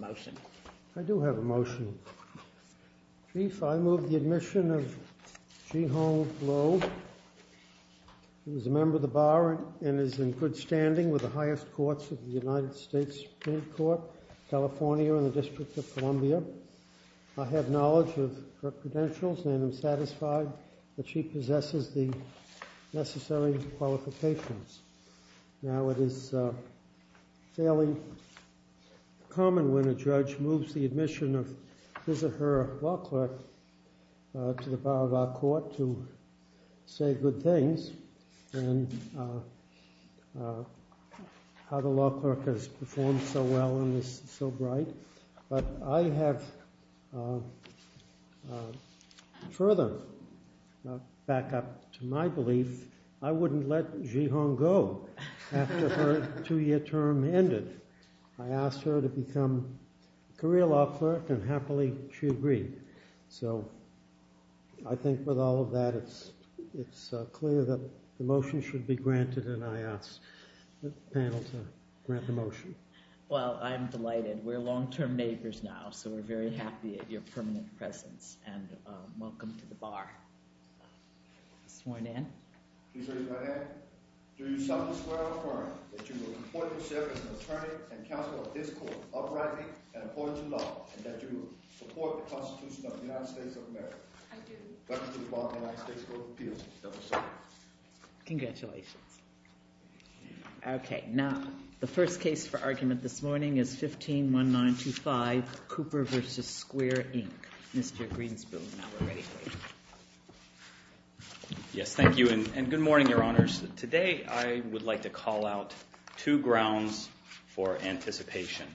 I do have a motion. Chief, I move the admission of Ji Hong Lo, who is a member of the Bar and is in good standing with the highest courts of the United States Supreme Court, California and the District of Columbia. I have knowledge of her credentials and am satisfied that she possesses the necessary qualifications. Now, it is fairly common when a judge moves the admission of his or her law clerk to the bar of our court to say good things and how the law clerk has performed so well and is so bright. But I have further backup to my belief. I wouldn't let Ji Hong go after her two-year term ended. I asked her to become career law clerk and happily she agreed. So I think with all of that, it's clear that the motion should be granted and I ask the panel to grant the motion. Well, I'm delighted. We're long-term neighbors now, so we're very happy at your permanent presence and welcome to the Bar. This morning. Please raise your right hand. Do you solemnly swear or affirm that you will report yourself as an attorney and counsel of this court uprightly and according to law and that you will support the Constitution of the United States of America? I do. Welcome to the Bar of the United States Court of Appeals. I do so. Congratulations. Okay. Now, the first case for argument this morning is 15-1925, Cooper v. Square, Inc. Mr. Greenspoon, now we're ready for you. Yes, thank you and good morning, Your Honors. Today I would like to call out two grounds for non-anticipation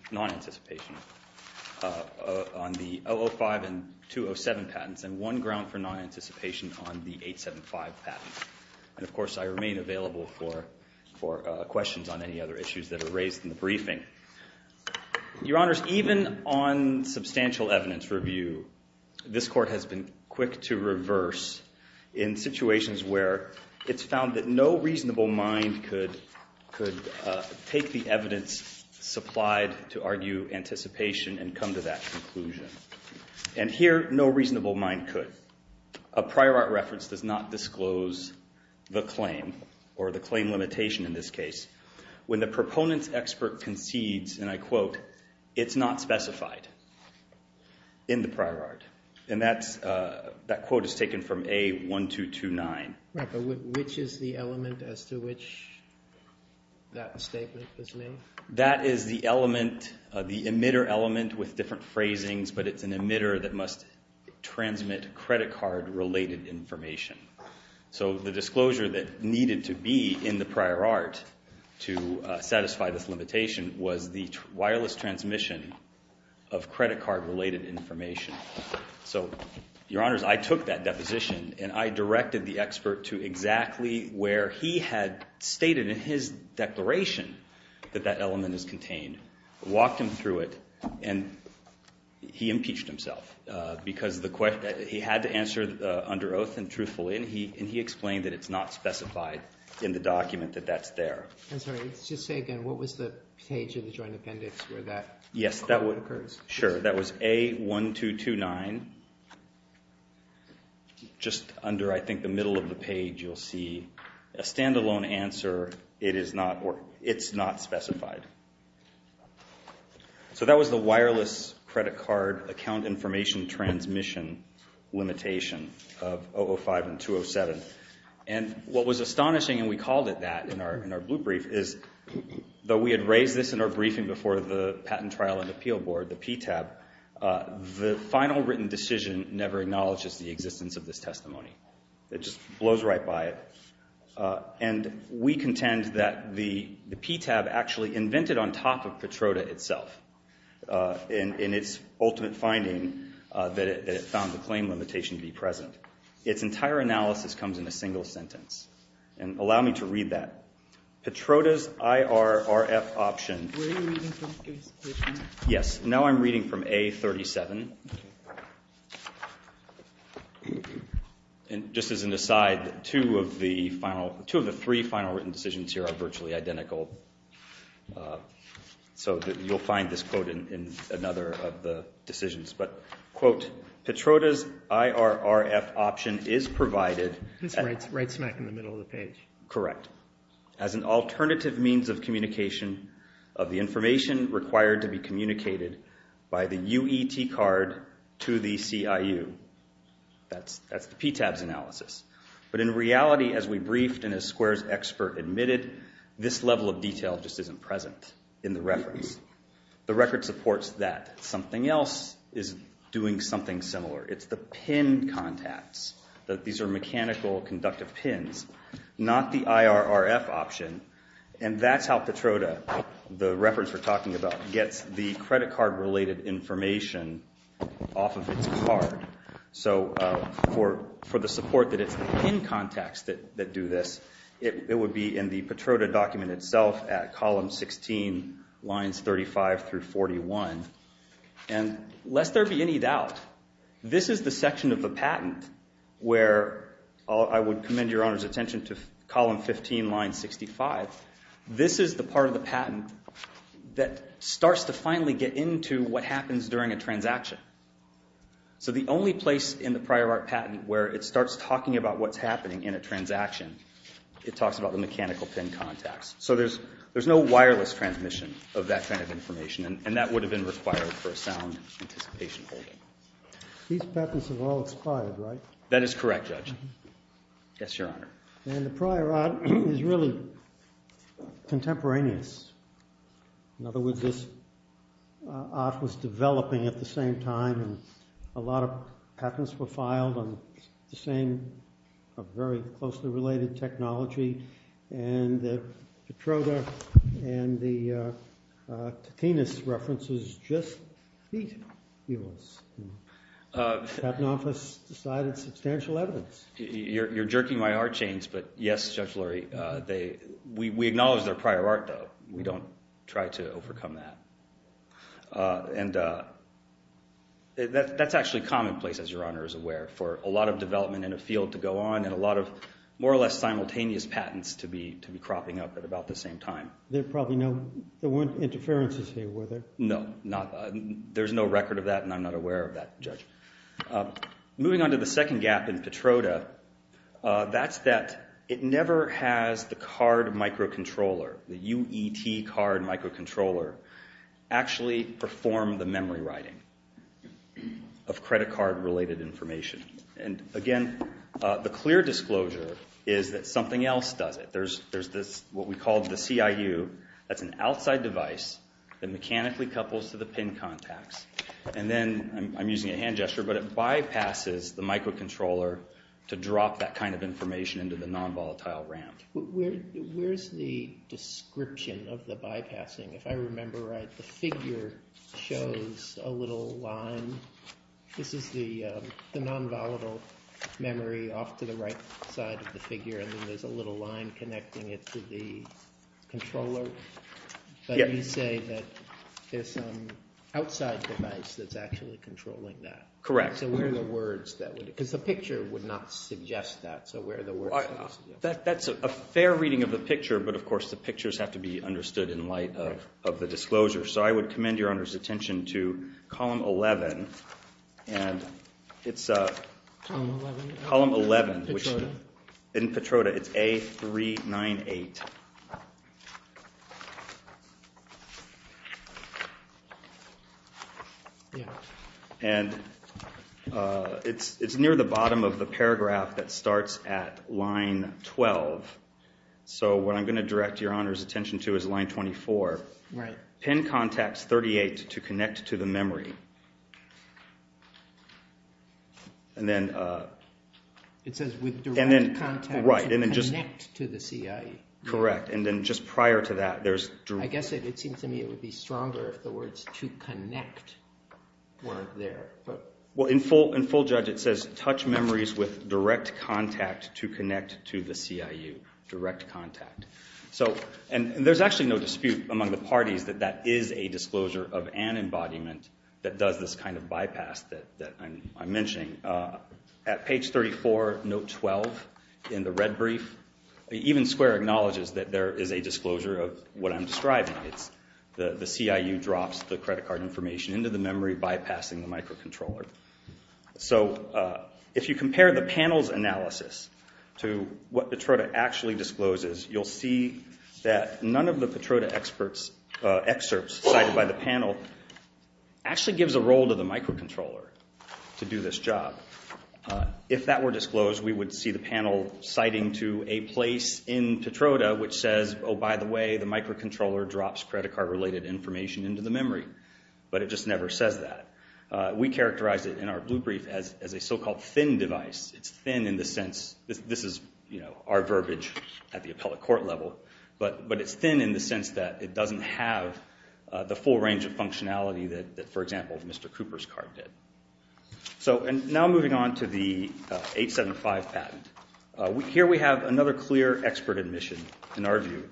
on the 005 and 207 patents and one ground for non-anticipation on the 875 patent. And, of course, I remain available for questions on any other issues that are raised in the briefing. Your Honors, even on substantial evidence review, this court has been quick to reverse in situations where it's found that no reasonable mind could take the evidence supplied to argue anticipation and come to that conclusion. And here, no reasonable mind could. A prior art reference does not disclose the claim or the claim limitation in this case. When the proponent's expert concedes, and I quote, it's not specified in the prior art. And that quote is taken from A1229. Right, but which is the element as to which that statement was made? That is the element, the emitter element with different phrasings, but it's an emitter that must transmit credit card-related information. So the disclosure that needed to be in the prior art to satisfy this limitation was the wireless transmission of credit card-related information. So, Your Honors, I took that deposition and I directed the expert to exactly where he had stated in his declaration that that element is contained, walked him through it, and he impeached himself because he had to answer under oath and truthfully, and he explained that it's not specified in the document that that's there. I'm sorry, just say again, what was the page in the joint appendix where that occurs? Yes, sure, that was A1229. Just under, I think, the middle of the page you'll see a standalone answer, it is not or it's not specified. So that was the wireless credit card account information transmission limitation of 005 and 207. And what was astonishing, and we called it that in our blue brief, is though we had raised this in our briefing before the Patent Trial and Appeal Board, the PTAB, the final written decision never acknowledges the existence of this testimony. It just blows right by it. And we contend that the PTAB actually invented on top of Petroda itself in its ultimate finding that it found the claim limitation to be present. Its entire analysis comes in a single sentence. And allow me to read that. Petroda's IRRF option. Were you reading from A37? Yes, now I'm reading from A37. And just as an aside, two of the three final written decisions here are virtually identical. So you'll find this quote in another of the decisions. But, quote, Petroda's IRRF option is provided. It's right smack in the middle of the page. Correct. As an alternative means of communication of the information required to be communicated by the UET card to the CIU. That's the PTAB's analysis. But in reality, as we briefed and as Square's expert admitted, this level of detail just isn't present in the reference. The record supports that. Something else is doing something similar. It's the pin contacts. These are mechanical conductive pins, not the IRRF option. And that's how Petroda, the reference we're talking about, gets the credit card related information off of its card. So for the support that it's the pin contacts that do this, it would be in the Petroda document itself at column 16, lines 35 through 41. And lest there be any doubt, this is the section of the patent where I would commend Your Honor's attention to column 15, line 65. This is the part of the patent that starts to finally get into what happens during a transaction. So the only place in the prior art patent where it starts talking about what's happening in a transaction, it talks about the mechanical pin contacts. So there's no wireless transmission of that kind of information, and that would have been required for a sound anticipation holding. These patents have all expired, right? That is correct, Judge. Yes, Your Honor. And the prior art is really contemporaneous. In other words, this art was developing at the same time, and a lot of patents were filed on the same very closely related technology, and the Petroda and the Katinas references just beat yours. The Patent Office decided substantial evidence. You're jerking my art chains, but yes, Judge Lurie, we acknowledge their prior art, though. We don't try to overcome that. And that's actually commonplace, as Your Honor is aware, for a lot of development in a field to go on and a lot of more or less simultaneous patents to be cropping up at about the same time. There probably weren't interferences here, were there? No, there's no record of that, and I'm not aware of that, Judge. Moving on to the second gap in Petroda, that's that it never has the card microcontroller, the UET card microcontroller, actually perform the memory writing of credit card-related information. Again, the clear disclosure is that something else does it. There's what we call the CIU. That's an outside device that mechanically couples to the pin contacts. And then I'm using a hand gesture, but it bypasses the microcontroller to drop that kind of information into the nonvolatile RAM. Where's the description of the bypassing? If I remember right, the figure shows a little line. This is the nonvolatile memory off to the right side of the figure, and then there's a little line connecting it to the controller. But you say that there's some outside device that's actually controlling that. Correct. So where are the words that would be? Because the picture would not suggest that, so where are the words? That's a fair reading of the picture, but, of course, the pictures have to be understood in light of the disclosure. So I would commend Your Honor's attention to Column 11. And it's Column 11 in Petroda. It's A398. And it's near the bottom of the paragraph that starts at line 12. So what I'm going to direct Your Honor's attention to is line 24. Pin contacts 38 to connect to the memory. It says with direct contact to connect to the CIU. Correct. And then just prior to that there's… I guess it seems to me it would be stronger if the words to connect weren't there. Well, in full judge it says, touch memories with direct contact to connect to the CIU. Direct contact. And there's actually no dispute among the parties that that is a disclosure of an embodiment that does this kind of bypass that I'm mentioning. At page 34, note 12 in the red brief, even Square acknowledges that there is a disclosure of what I'm describing. It's the CIU drops the credit card information into the memory bypassing the microcontroller. So if you compare the panel's analysis to what Petroda actually discloses, you'll see that none of the Petroda excerpts cited by the panel actually gives a role to the microcontroller to do this job. If that were disclosed, we would see the panel citing to a place in Petroda which says, oh, by the way, the microcontroller drops credit card related information into the memory. But it just never says that. We characterize it in our blue brief as a so-called thin device. It's thin in the sense, this is our verbiage at the appellate court level, but it's thin in the sense that it doesn't have the full range of functionality that, for example, Mr. Cooper's card did. Now moving on to the 875 patent. Here we have another clear expert admission, in our view,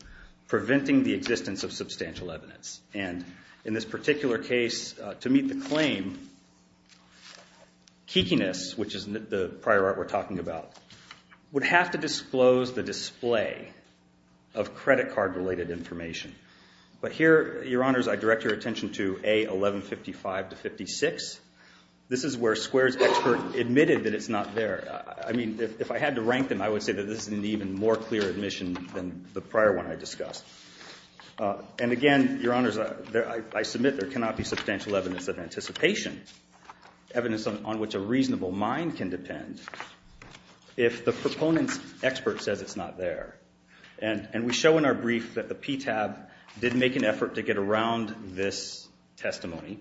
preventing the existence of substantial evidence. And in this particular case, to meet the claim, Keekiness, which is the prior art we're talking about, would have to disclose the display of credit card related information. But here, Your Honors, I direct your attention to A1155-56. This is where Square's expert admitted that it's not there. I mean, if I had to rank them, I would say that this is an even more clear admission than the prior one I discussed. And again, Your Honors, I submit there cannot be substantial evidence of anticipation, evidence on which a reasonable mind can depend, if the proponent's expert says it's not there. And we show in our brief that the PTAB did make an effort to get around this testimony.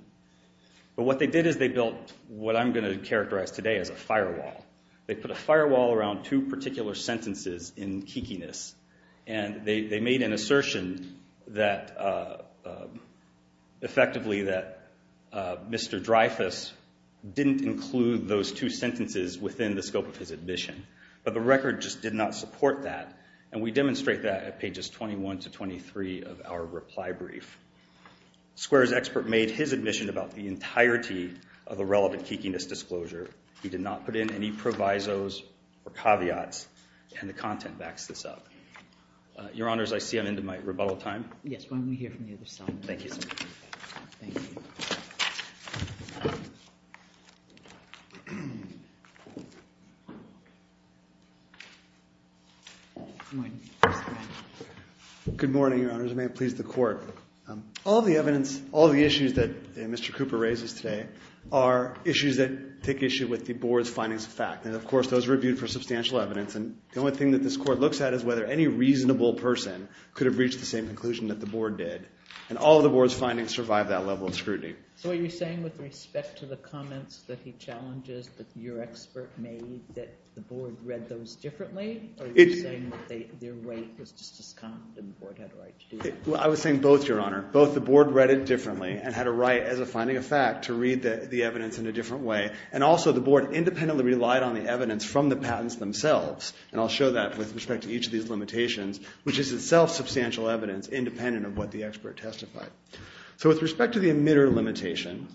But what they did is they built what I'm going to characterize today as a firewall. They put a firewall around two particular sentences in Keekiness, and they made an assertion, effectively, that Mr. Dreyfus didn't include those two sentences within the scope of his admission. But the record just did not support that, and we demonstrate that at pages 21 to 23 of our reply brief. Square's expert made his admission about the entirety of the relevant Keekiness disclosure. He did not put in any provisos or caveats, and the content backs this up. Your Honors, I see I'm into my rebuttal time. Yes, why don't we hear from the other side? Thank you. Thank you. Good morning, Your Honors, and may it please the Court. All the evidence, all the issues that Mr. Cooper raises today are issues that take issue with the Board's findings of fact. And, of course, those are reviewed for substantial evidence. And the only thing that this Court looks at is whether any reasonable person could have reached the same conclusion that the Board did. And all of the Board's findings survive that level of scrutiny. So are you saying with respect to the comments that he challenges that your expert made that the Board read those differently? Or are you saying that their right was just as competent and the Board had a right to do that? I was saying both, Your Honor. Both the Board read it differently and had a right, as a finding of fact, to read the evidence in a different way. And also the Board independently relied on the evidence from the patents themselves. And I'll show that with respect to each of these limitations, which is itself substantial evidence independent of what the expert testified. So with respect to the emitter limitation,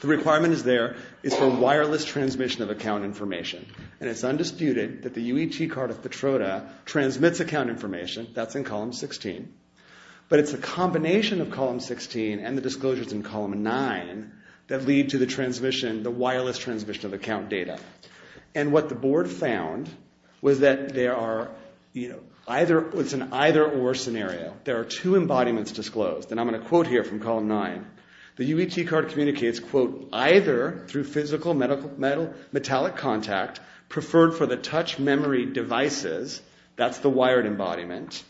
the requirement is there is for wireless transmission of account information. And it's undisputed that the UET card of Petroda transmits account information. That's in Column 16. But it's a combination of Column 16 and the disclosures in Column 9 that lead to the wireless transmission of account data. And what the Board found was that it's an either-or scenario. There are two embodiments disclosed. And I'm going to quote here from Column 9. The UET card communicates, quote, Either through physical metallic contact preferred for the touch memory devices, that's the wired embodiment.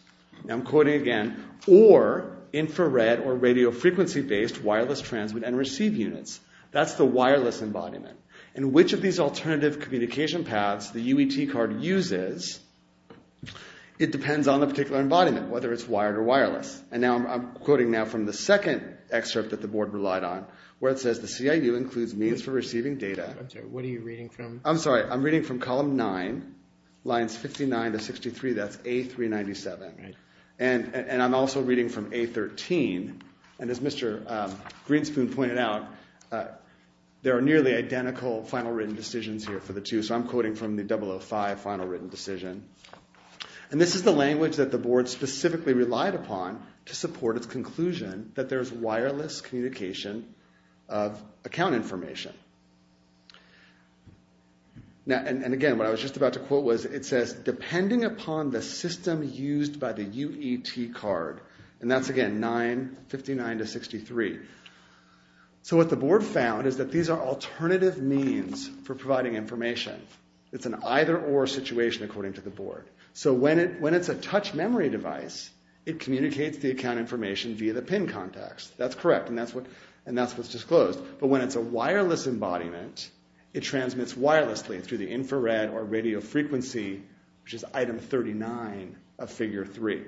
Now I'm quoting again. Or infrared or radio frequency-based wireless transmit and receive units. That's the wireless embodiment. And which of these alternative communication paths the UET card uses, it depends on the particular embodiment, whether it's wired or wireless. And I'm quoting now from the second excerpt that the Board relied on where it says the CIU includes means for receiving data. What are you reading from? I'm sorry. I'm reading from Column 9, lines 59 to 63. That's A397. And I'm also reading from A13. And as Mr. Greenspoon pointed out, there are nearly identical final written decisions here for the two. So I'm quoting from the 005 final written decision. And this is the language that the Board specifically relied upon to support its conclusion that there's wireless communication of account information. And, again, what I was just about to quote was it says, Depending upon the system used by the UET card. And that's, again, lines 59 to 63. So what the Board found is that these are alternative means for providing information. So when it's a touch memory device, it communicates the account information via the pin contacts. That's correct, and that's what's disclosed. But when it's a wireless embodiment, it transmits wirelessly through the infrared or radio frequency, which is Item 39 of Figure 3.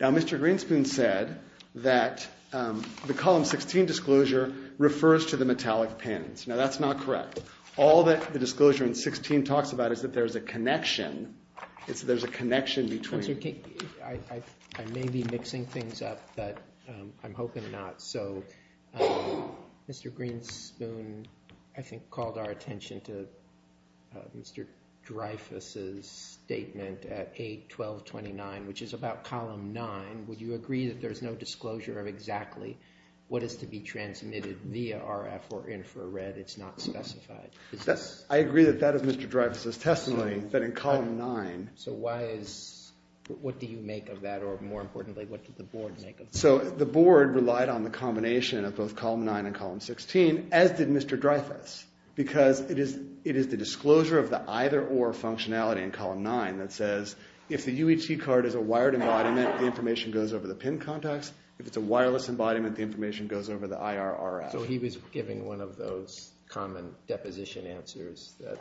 Now, Mr. Greenspoon said that the Column 16 disclosure refers to the metallic pins. Now, that's not correct. All that the disclosure in 16 talks about is that there's a connection. It's that there's a connection between. I may be mixing things up, but I'm hoping not. So Mr. Greenspoon, I think, called our attention to Mr. Dreyfus' statement at 8.12.29, which is about Column 9. Would you agree that there's no disclosure of exactly what is to be transmitted via RF or infrared? It's not specified. I agree that that is Mr. Dreyfus' testimony, that in Column 9. So what do you make of that, or more importantly, what did the Board make of that? So the Board relied on the combination of both Column 9 and Column 16, as did Mr. Dreyfus, because it is the disclosure of the either-or functionality in Column 9 that says, if the UHC card is a wired embodiment, the information goes over the pin contacts. If it's a wireless embodiment, the information goes over the IR RF. So he was giving one of those common deposition answers that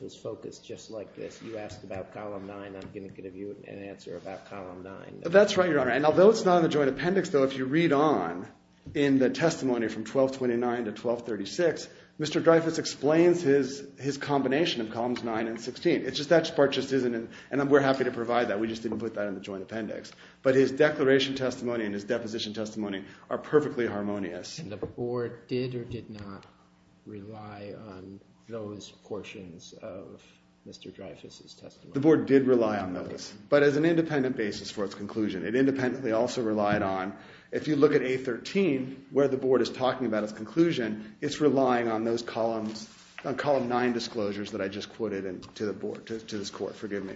was focused just like this. You asked about Column 9. I'm going to give you an answer about Column 9. That's right, Your Honor. And although it's not in the joint appendix, though, if you read on in the testimony from 12.29 to 12.36, Mr. Dreyfus explains his combination of Columns 9 and 16. It's just that part just isn't, and we're happy to provide that. We just didn't put that in the joint appendix. But his declaration testimony and his deposition testimony are perfectly harmonious. And the Board did or did not rely on those portions of Mr. Dreyfus' testimony? The Board did rely on those, but as an independent basis for its conclusion. It independently also relied on, if you look at A13, where the Board is talking about its conclusion, it's relying on those Columns, on Column 9 disclosures that I just quoted to the Board, to this Court. Forgive me.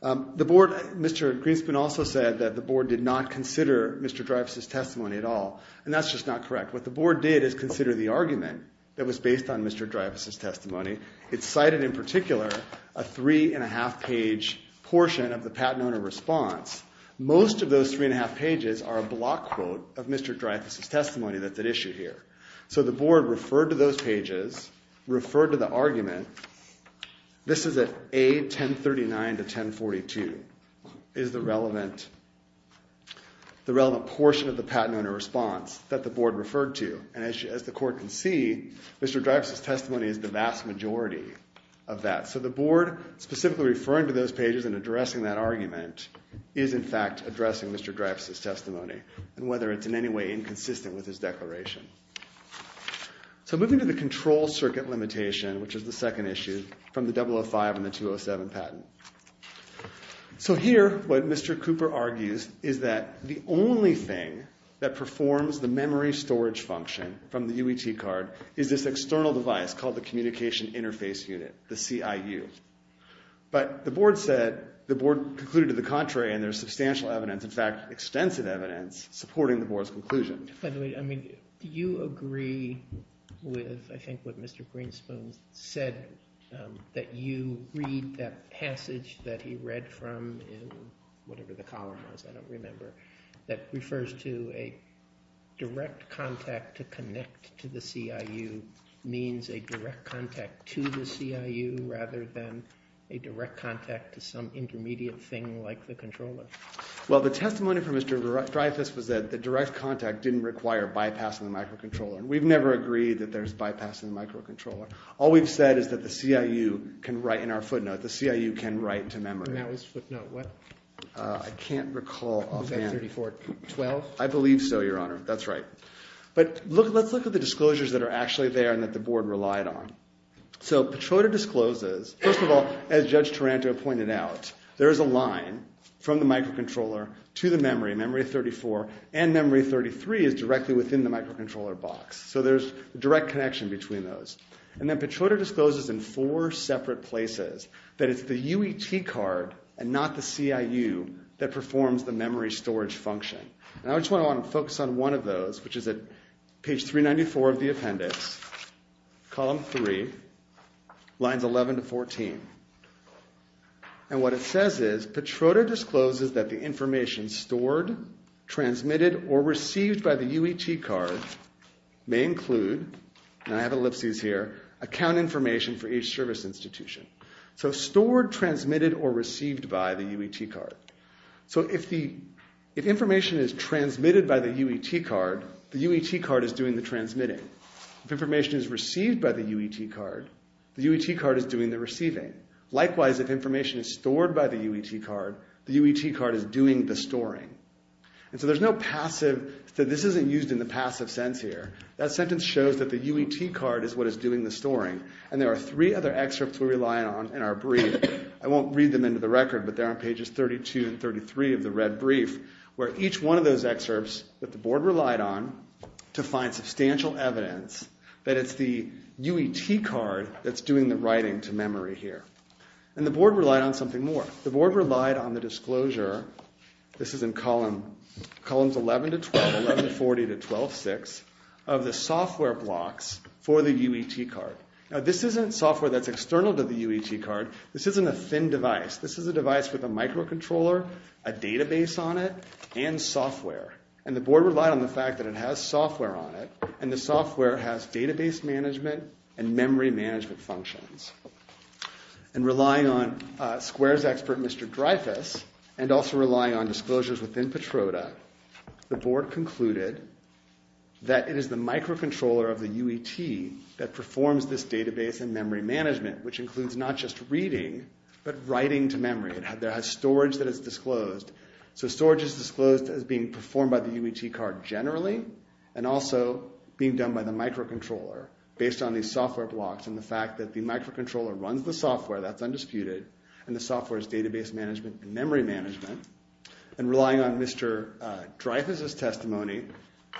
The Board, Mr. Greenspan also said that the Board did not consider Mr. Dreyfus' testimony at all. And that's just not correct. What the Board did is consider the argument that was based on Mr. Dreyfus' testimony. It cited in particular a three-and-a-half-page portion of the Patenone response. Most of those three-and-a-half pages are a block quote of Mr. Dreyfus' testimony that's at issue here. So the Board referred to those pages, referred to the argument. This is at A1039-1042, is the relevant portion of the Patenone response that the Board referred to. And as the Court can see, Mr. Dreyfus' testimony is the vast majority of that. So the Board, specifically referring to those pages and addressing that argument, is in fact addressing Mr. Dreyfus' testimony and whether it's in any way inconsistent with his declaration. So moving to the control circuit limitation, which is the second issue from the 005 and the 207 patent. So here, what Mr. Cooper argues is that the only thing that performs the memory storage function from the UET card is this external device called the Communication Interface Unit, the CIU. But the Board said, the Board concluded to the contrary, and there's substantial evidence, in fact, extensive evidence supporting the Board's conclusion. By the way, I mean, do you agree with, I think, what Mr. Greenspoon said, that you read that passage that he read from whatever the column was, I don't remember, that refers to a direct contact to connect to the CIU means a direct contact to the CIU rather than a direct contact to some intermediate thing like the controller? Well, the testimony from Mr. Dreyfus was that the direct contact didn't require bypassing the microcontroller. We've never agreed that there's bypassing the microcontroller. All we've said is that the CIU can write in our footnote. The CIU can write to memory. And that was footnote what? I can't recall offhand. Was that 3412? I believe so, Your Honor. That's right. But let's look at the disclosures that are actually there and that the Board relied on. So Petroiter discloses, first of all, as Judge Taranto pointed out, there is a line from the microcontroller to the memory, memory 34, and memory 33 is directly within the microcontroller box. So there's a direct connection between those. And then Petroiter discloses in four separate places that it's the UET card and not the CIU that performs the memory storage function. And I just want to focus on one of those, which is at page 394 of the appendix, column 3, lines 11 to 14. And what it says is Petroiter discloses that the information stored, transmitted, or received by the UET card may include, and I have ellipses here, account information for each service institution. So stored, transmitted, or received by the UET card. So if information is transmitted by the UET card, the UET card is doing the transmitting. If information is received by the UET card, the UET card is doing the receiving. Likewise, if information is stored by the UET card, the UET card is doing the storing. And so there's no passive, so this isn't used in the passive sense here. That sentence shows that the UET card is what is doing the storing. And there are three other excerpts we rely on in our brief. I won't read them into the record, but they're on pages 32 and 33 of the red brief, where each one of those excerpts that the board relied on to find substantial evidence that it's the UET card that's doing the writing to memory here. And the board relied on something more. The board relied on the disclosure, this is in columns 11 to 12, 11 to 40, to 12.6, of the software blocks for the UET card. Now, this isn't software that's external to the UET card. This isn't a thin device. This is a device with a microcontroller, a database on it, and software. And the board relied on the fact that it has software on it, and the software has database management and memory management functions. And relying on squares expert, Mr. Dreyfus, and also relying on disclosures within Petroda, the board concluded that it is the microcontroller of the UET that performs this database and memory management, which includes not just reading but writing to memory. It has storage that is disclosed. So storage is disclosed as being performed by the UET card generally and also being done by the microcontroller based on these software blocks and the fact that the microcontroller runs the software, that's undisputed, and the software is database management and memory management. And relying on Mr. Dreyfus' testimony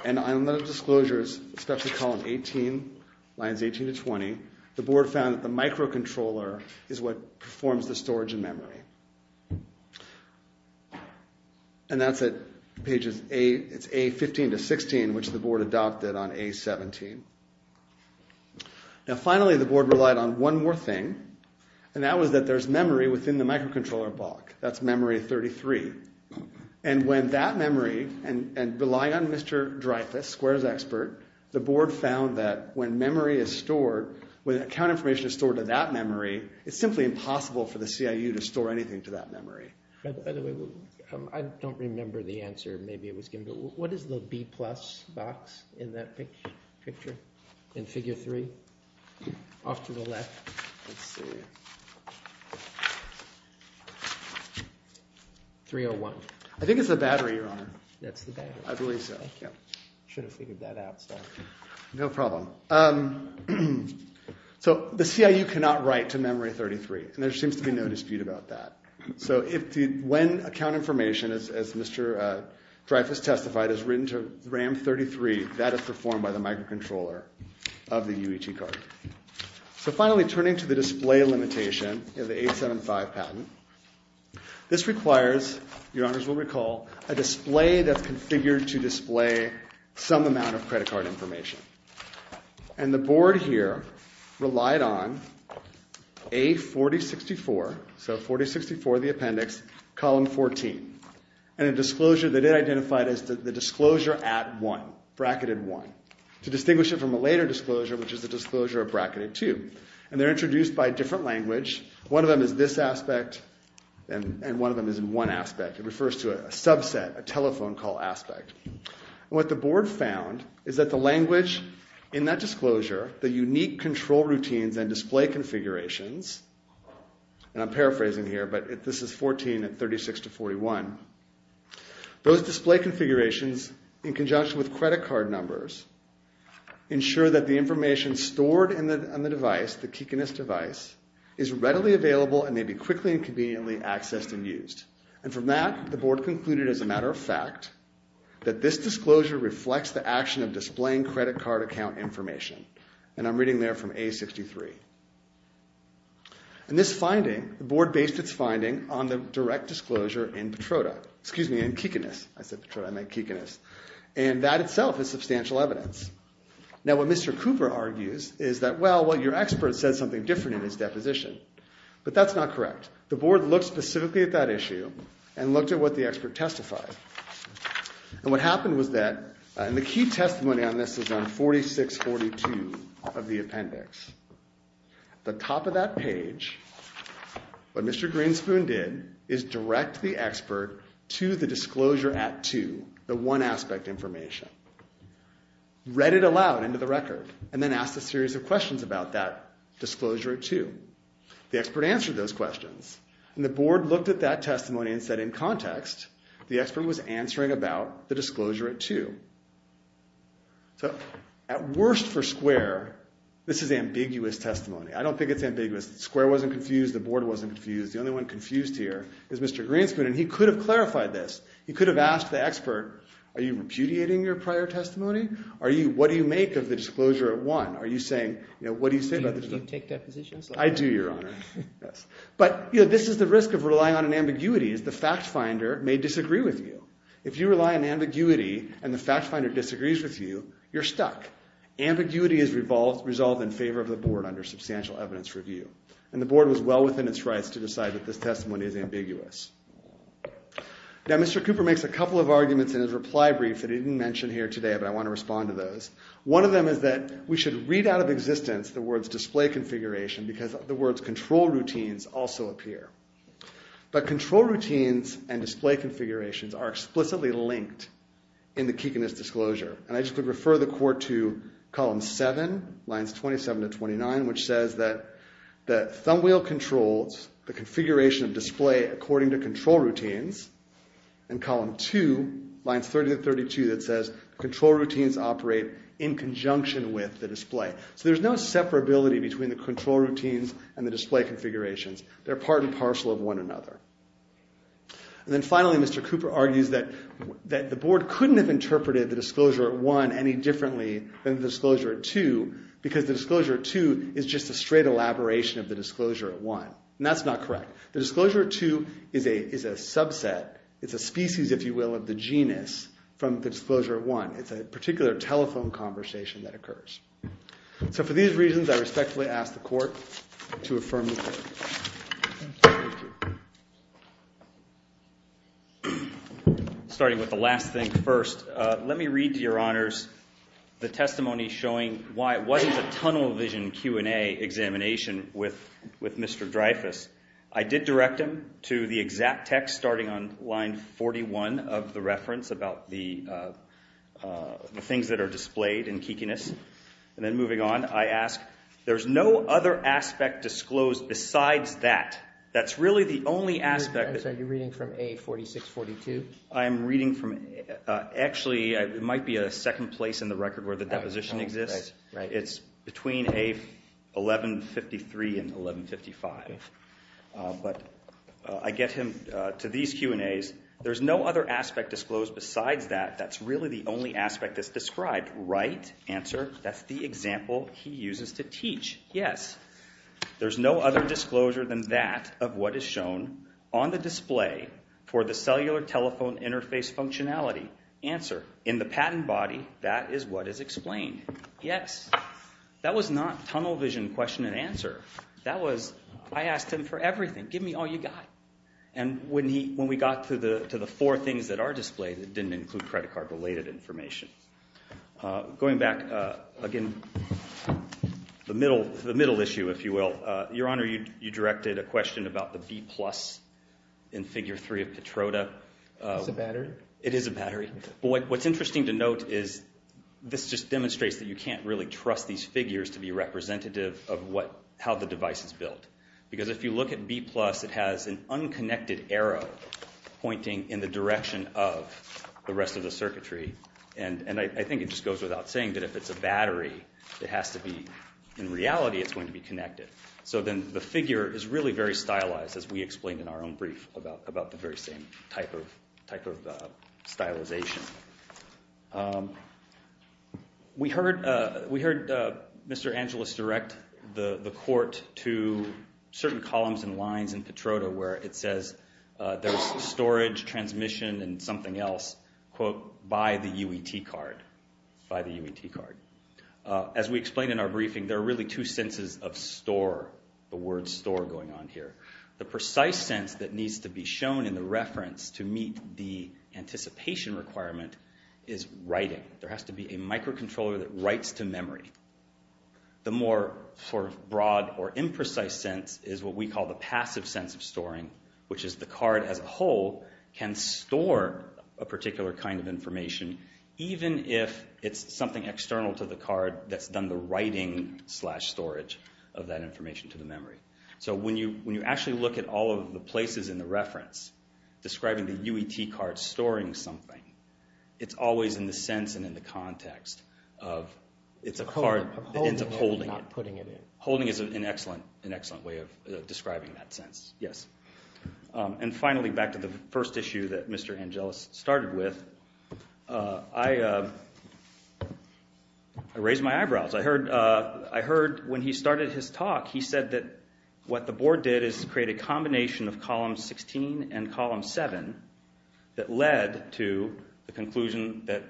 and on the disclosures, especially column 18, lines 18 to 20, the board found that the microcontroller is what performs the storage and memory. And that's at pages A, it's A15 to 16, which the board adopted on A17. Now, finally, the board relied on one more thing, and that was that there's memory within the microcontroller block. That's memory 33. And when that memory, and relying on Mr. Dreyfus, Square's expert, the board found that when memory is stored, when account information is stored to that memory, it's simply impossible for the CIU to store anything to that memory. By the way, I don't remember the answer, maybe it was given, but what is the B plus box in that picture, in figure three? Off to the left. Let's see. 301. I think it's the battery, Your Honor. That's the battery. I believe so. Thank you. I should have figured that out, sorry. No problem. So the CIU cannot write to memory 33, and there seems to be no dispute about that. So when account information, as Mr. Dreyfus testified, is written to RAM 33, that is performed by the microcontroller of the UET card. So finally, turning to the display limitation in the 875 patent, this requires, Your Honors will recall, a display that's configured to display some amount of credit card information. And the board here relied on A4064, so 4064, the appendix, column 14, and a disclosure that it identified as the disclosure at 1, bracketed 1, to distinguish it from a later disclosure, which is the disclosure of bracketed 2. And they're introduced by a different language. One of them is this aspect, and one of them is in one aspect. It refers to a subset, a telephone call aspect. And what the board found is that the language in that disclosure, the unique control routines and display configurations, and I'm paraphrasing here, but this is 14 and 36 to 41, those display configurations, in conjunction with credit card numbers, ensure that the information stored in the device, the Kikinis device, is readily available and may be quickly and conveniently accessed and used. And from that, the board concluded, as a matter of fact, that this disclosure reflects the action of displaying credit card account information. And I'm reading there from A63. And this finding, the board based its finding on the direct disclosure in Petroda. Excuse me, in Kikinis. I said Petroda, I meant Kikinis. And that itself is substantial evidence. Now what Mr. Cooper argues is that, well, your expert said something different in his deposition. But that's not correct. The board looked specifically at that issue and looked at what the expert testified. And what happened was that, and the key testimony on this is on 4642 of the appendix. The top of that page, what Mr. Greenspoon did, is direct the expert to the disclosure at 2, the one aspect information. Read it aloud into the record. And then asked a series of questions about that disclosure at 2. The expert answered those questions. And the board looked at that testimony and said, in context, the expert was answering about the disclosure at 2. So, at worst for Square, this is ambiguous testimony. I don't think it's ambiguous. Square wasn't confused. The board wasn't confused. The only one confused here is Mr. Greenspoon. And he could have clarified this. He could have asked the expert, are you repudiating your prior testimony? What do you make of the disclosure at 1? Are you saying, what do you say about this? Do you take that position? I do, Your Honor. But this is the risk of relying on an ambiguity. The fact finder may disagree with you. If you rely on ambiguity and the fact finder disagrees with you, you're stuck. Ambiguity is resolved in favor of the board under substantial evidence review. And the board was well within its rights to decide that this testimony is ambiguous. Now, Mr. Cooper makes a couple of arguments in his reply brief that he didn't mention here today, but I want to respond to those. One of them is that we should read out of existence the words display configuration because the words control routines also appear. But control routines and display configurations are explicitly linked in the Kekanist disclosure. And I just would refer the court to column 7, lines 27 to 29, which says that the thumbwheel controls the configuration of display according to control routines. And column 2, lines 30 to 32, that says control routines operate in conjunction with the display. So there's no separability between the control routines and the display configurations. They're part and parcel of one another. And then finally, Mr. Cooper argues that the board couldn't have interpreted the disclosure at 1 any differently than the disclosure at 2 because the disclosure at 2 is just a straight elaboration of the disclosure at 1. And that's not correct. The disclosure at 2 is a subset. It's a species, if you will, of the genus from the disclosure at 1. It's a particular telephone conversation that occurs. So for these reasons, I respectfully ask the court to affirm the ruling. Starting with the last thing first. Let me read to your honors the testimony showing what is a tunnel vision Q&A examination with Mr. Dreyfus. I did direct him to the exact text starting on line 41 of the reference about the things that are displayed in Kekanist. And then moving on, I ask, there's no other aspect disclosed besides that. That's really the only aspect. I'm sorry. You're reading from A4642? I am reading from it. Actually, it might be a second place in the record where the deposition exists. It's between A1153 and 1155. But I get him to these Q&As. There's no other aspect disclosed besides that. That's really the only aspect that's described. Right? Answer? That's the example he uses to teach. Yes. There's no other disclosure than that of what is shown on the display for the cellular telephone interface functionality. Answer? In the patent body, that is what is explained. Yes. That was not tunnel vision question and answer. That was, I asked him for everything. Give me all you got. And when we got to the four things that are displayed, it didn't include credit card related information. Going back, again, the middle issue, if you will. Your Honor, you directed a question about the B plus in figure three of Petroda. It's a battery. It is a battery. But what's interesting to note is this just demonstrates that you can't really trust these figures to be representative of how the device is built. Because if you look at B plus, it has an unconnected arrow pointing in the direction of the rest of the circuitry. And I think it just goes without saying that if it's a battery, it has to be, in reality, it's going to be connected. So then the figure is really very stylized, as we explained in our own brief about the very same type of stylization. We heard Mr. Angeles direct the court to certain columns and lines in Petroda where it says there's storage, transmission, and something else, quote, by the UET card, by the UET card. As we explained in our briefing, there are really two senses of store, the word store going on here. The precise sense that needs to be shown in the reference to meet the anticipation requirement is writing. There has to be a microcontroller that writes to memory. The more sort of broad or imprecise sense is what we call the passive sense of storing, which is the card as a whole can store a particular kind of information, even if it's something external to the card that's done the writing slash storage of that information to the memory. So when you actually look at all of the places in the reference describing the UET card storing something, it's always in the sense and in the context of it's a card that ends up holding it. Holding is an excellent way of describing that sense, yes. And finally, back to the first issue that Mr. Angeles started with, I raised my eyebrows. I heard when he started his talk, he said that what the board did is create a combination of column 16 and column 7 that led to the conclusion that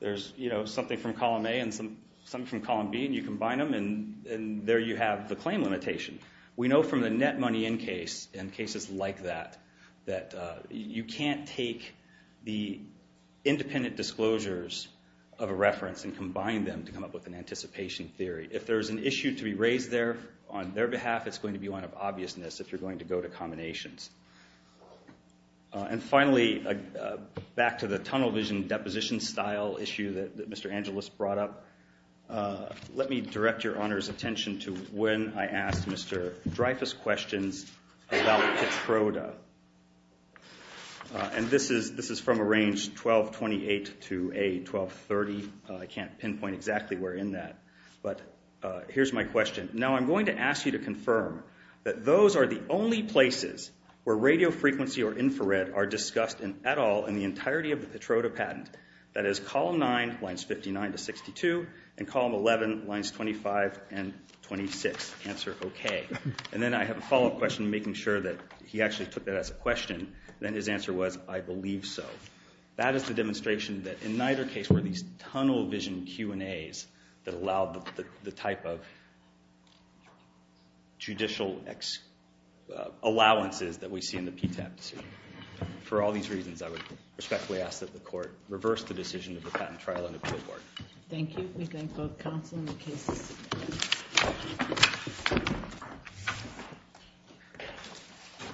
there's something from column A and something from column B, and you combine them and there you have the claim limitation. We know from the net money in case and cases like that that you can't take the independent disclosures of a reference and combine them to come up with an anticipation theory. If there's an issue to be raised there on their behalf, it's going to be one of obviousness if you're going to go to combinations. And finally, back to the tunnel vision deposition style issue that Mr. Angeles brought up, let me direct your Honor's attention to when I asked Mr. Dreyfus questions about Petroda. And this is from a range 1228 to a 1230. I can't pinpoint exactly where in that, but here's my question. Now I'm going to ask you to confirm that those are the only places where radio frequency or infrared are discussed at all in the entirety of the Petroda patent. That is column 9, lines 59 to 62, and column 11, lines 25 and 26. Answer okay. And then I have a follow-up question, making sure that he actually took that as a question, and then his answer was, I believe so. That is the demonstration that in neither case were these tunnel vision Q&As that allowed the type of judicial allowances that we see in the PTAP to see. For all these reasons, I would respectfully ask that the court reverse the decision of the patent trial and appeal board. Thank you. We thank both counsel and the cases.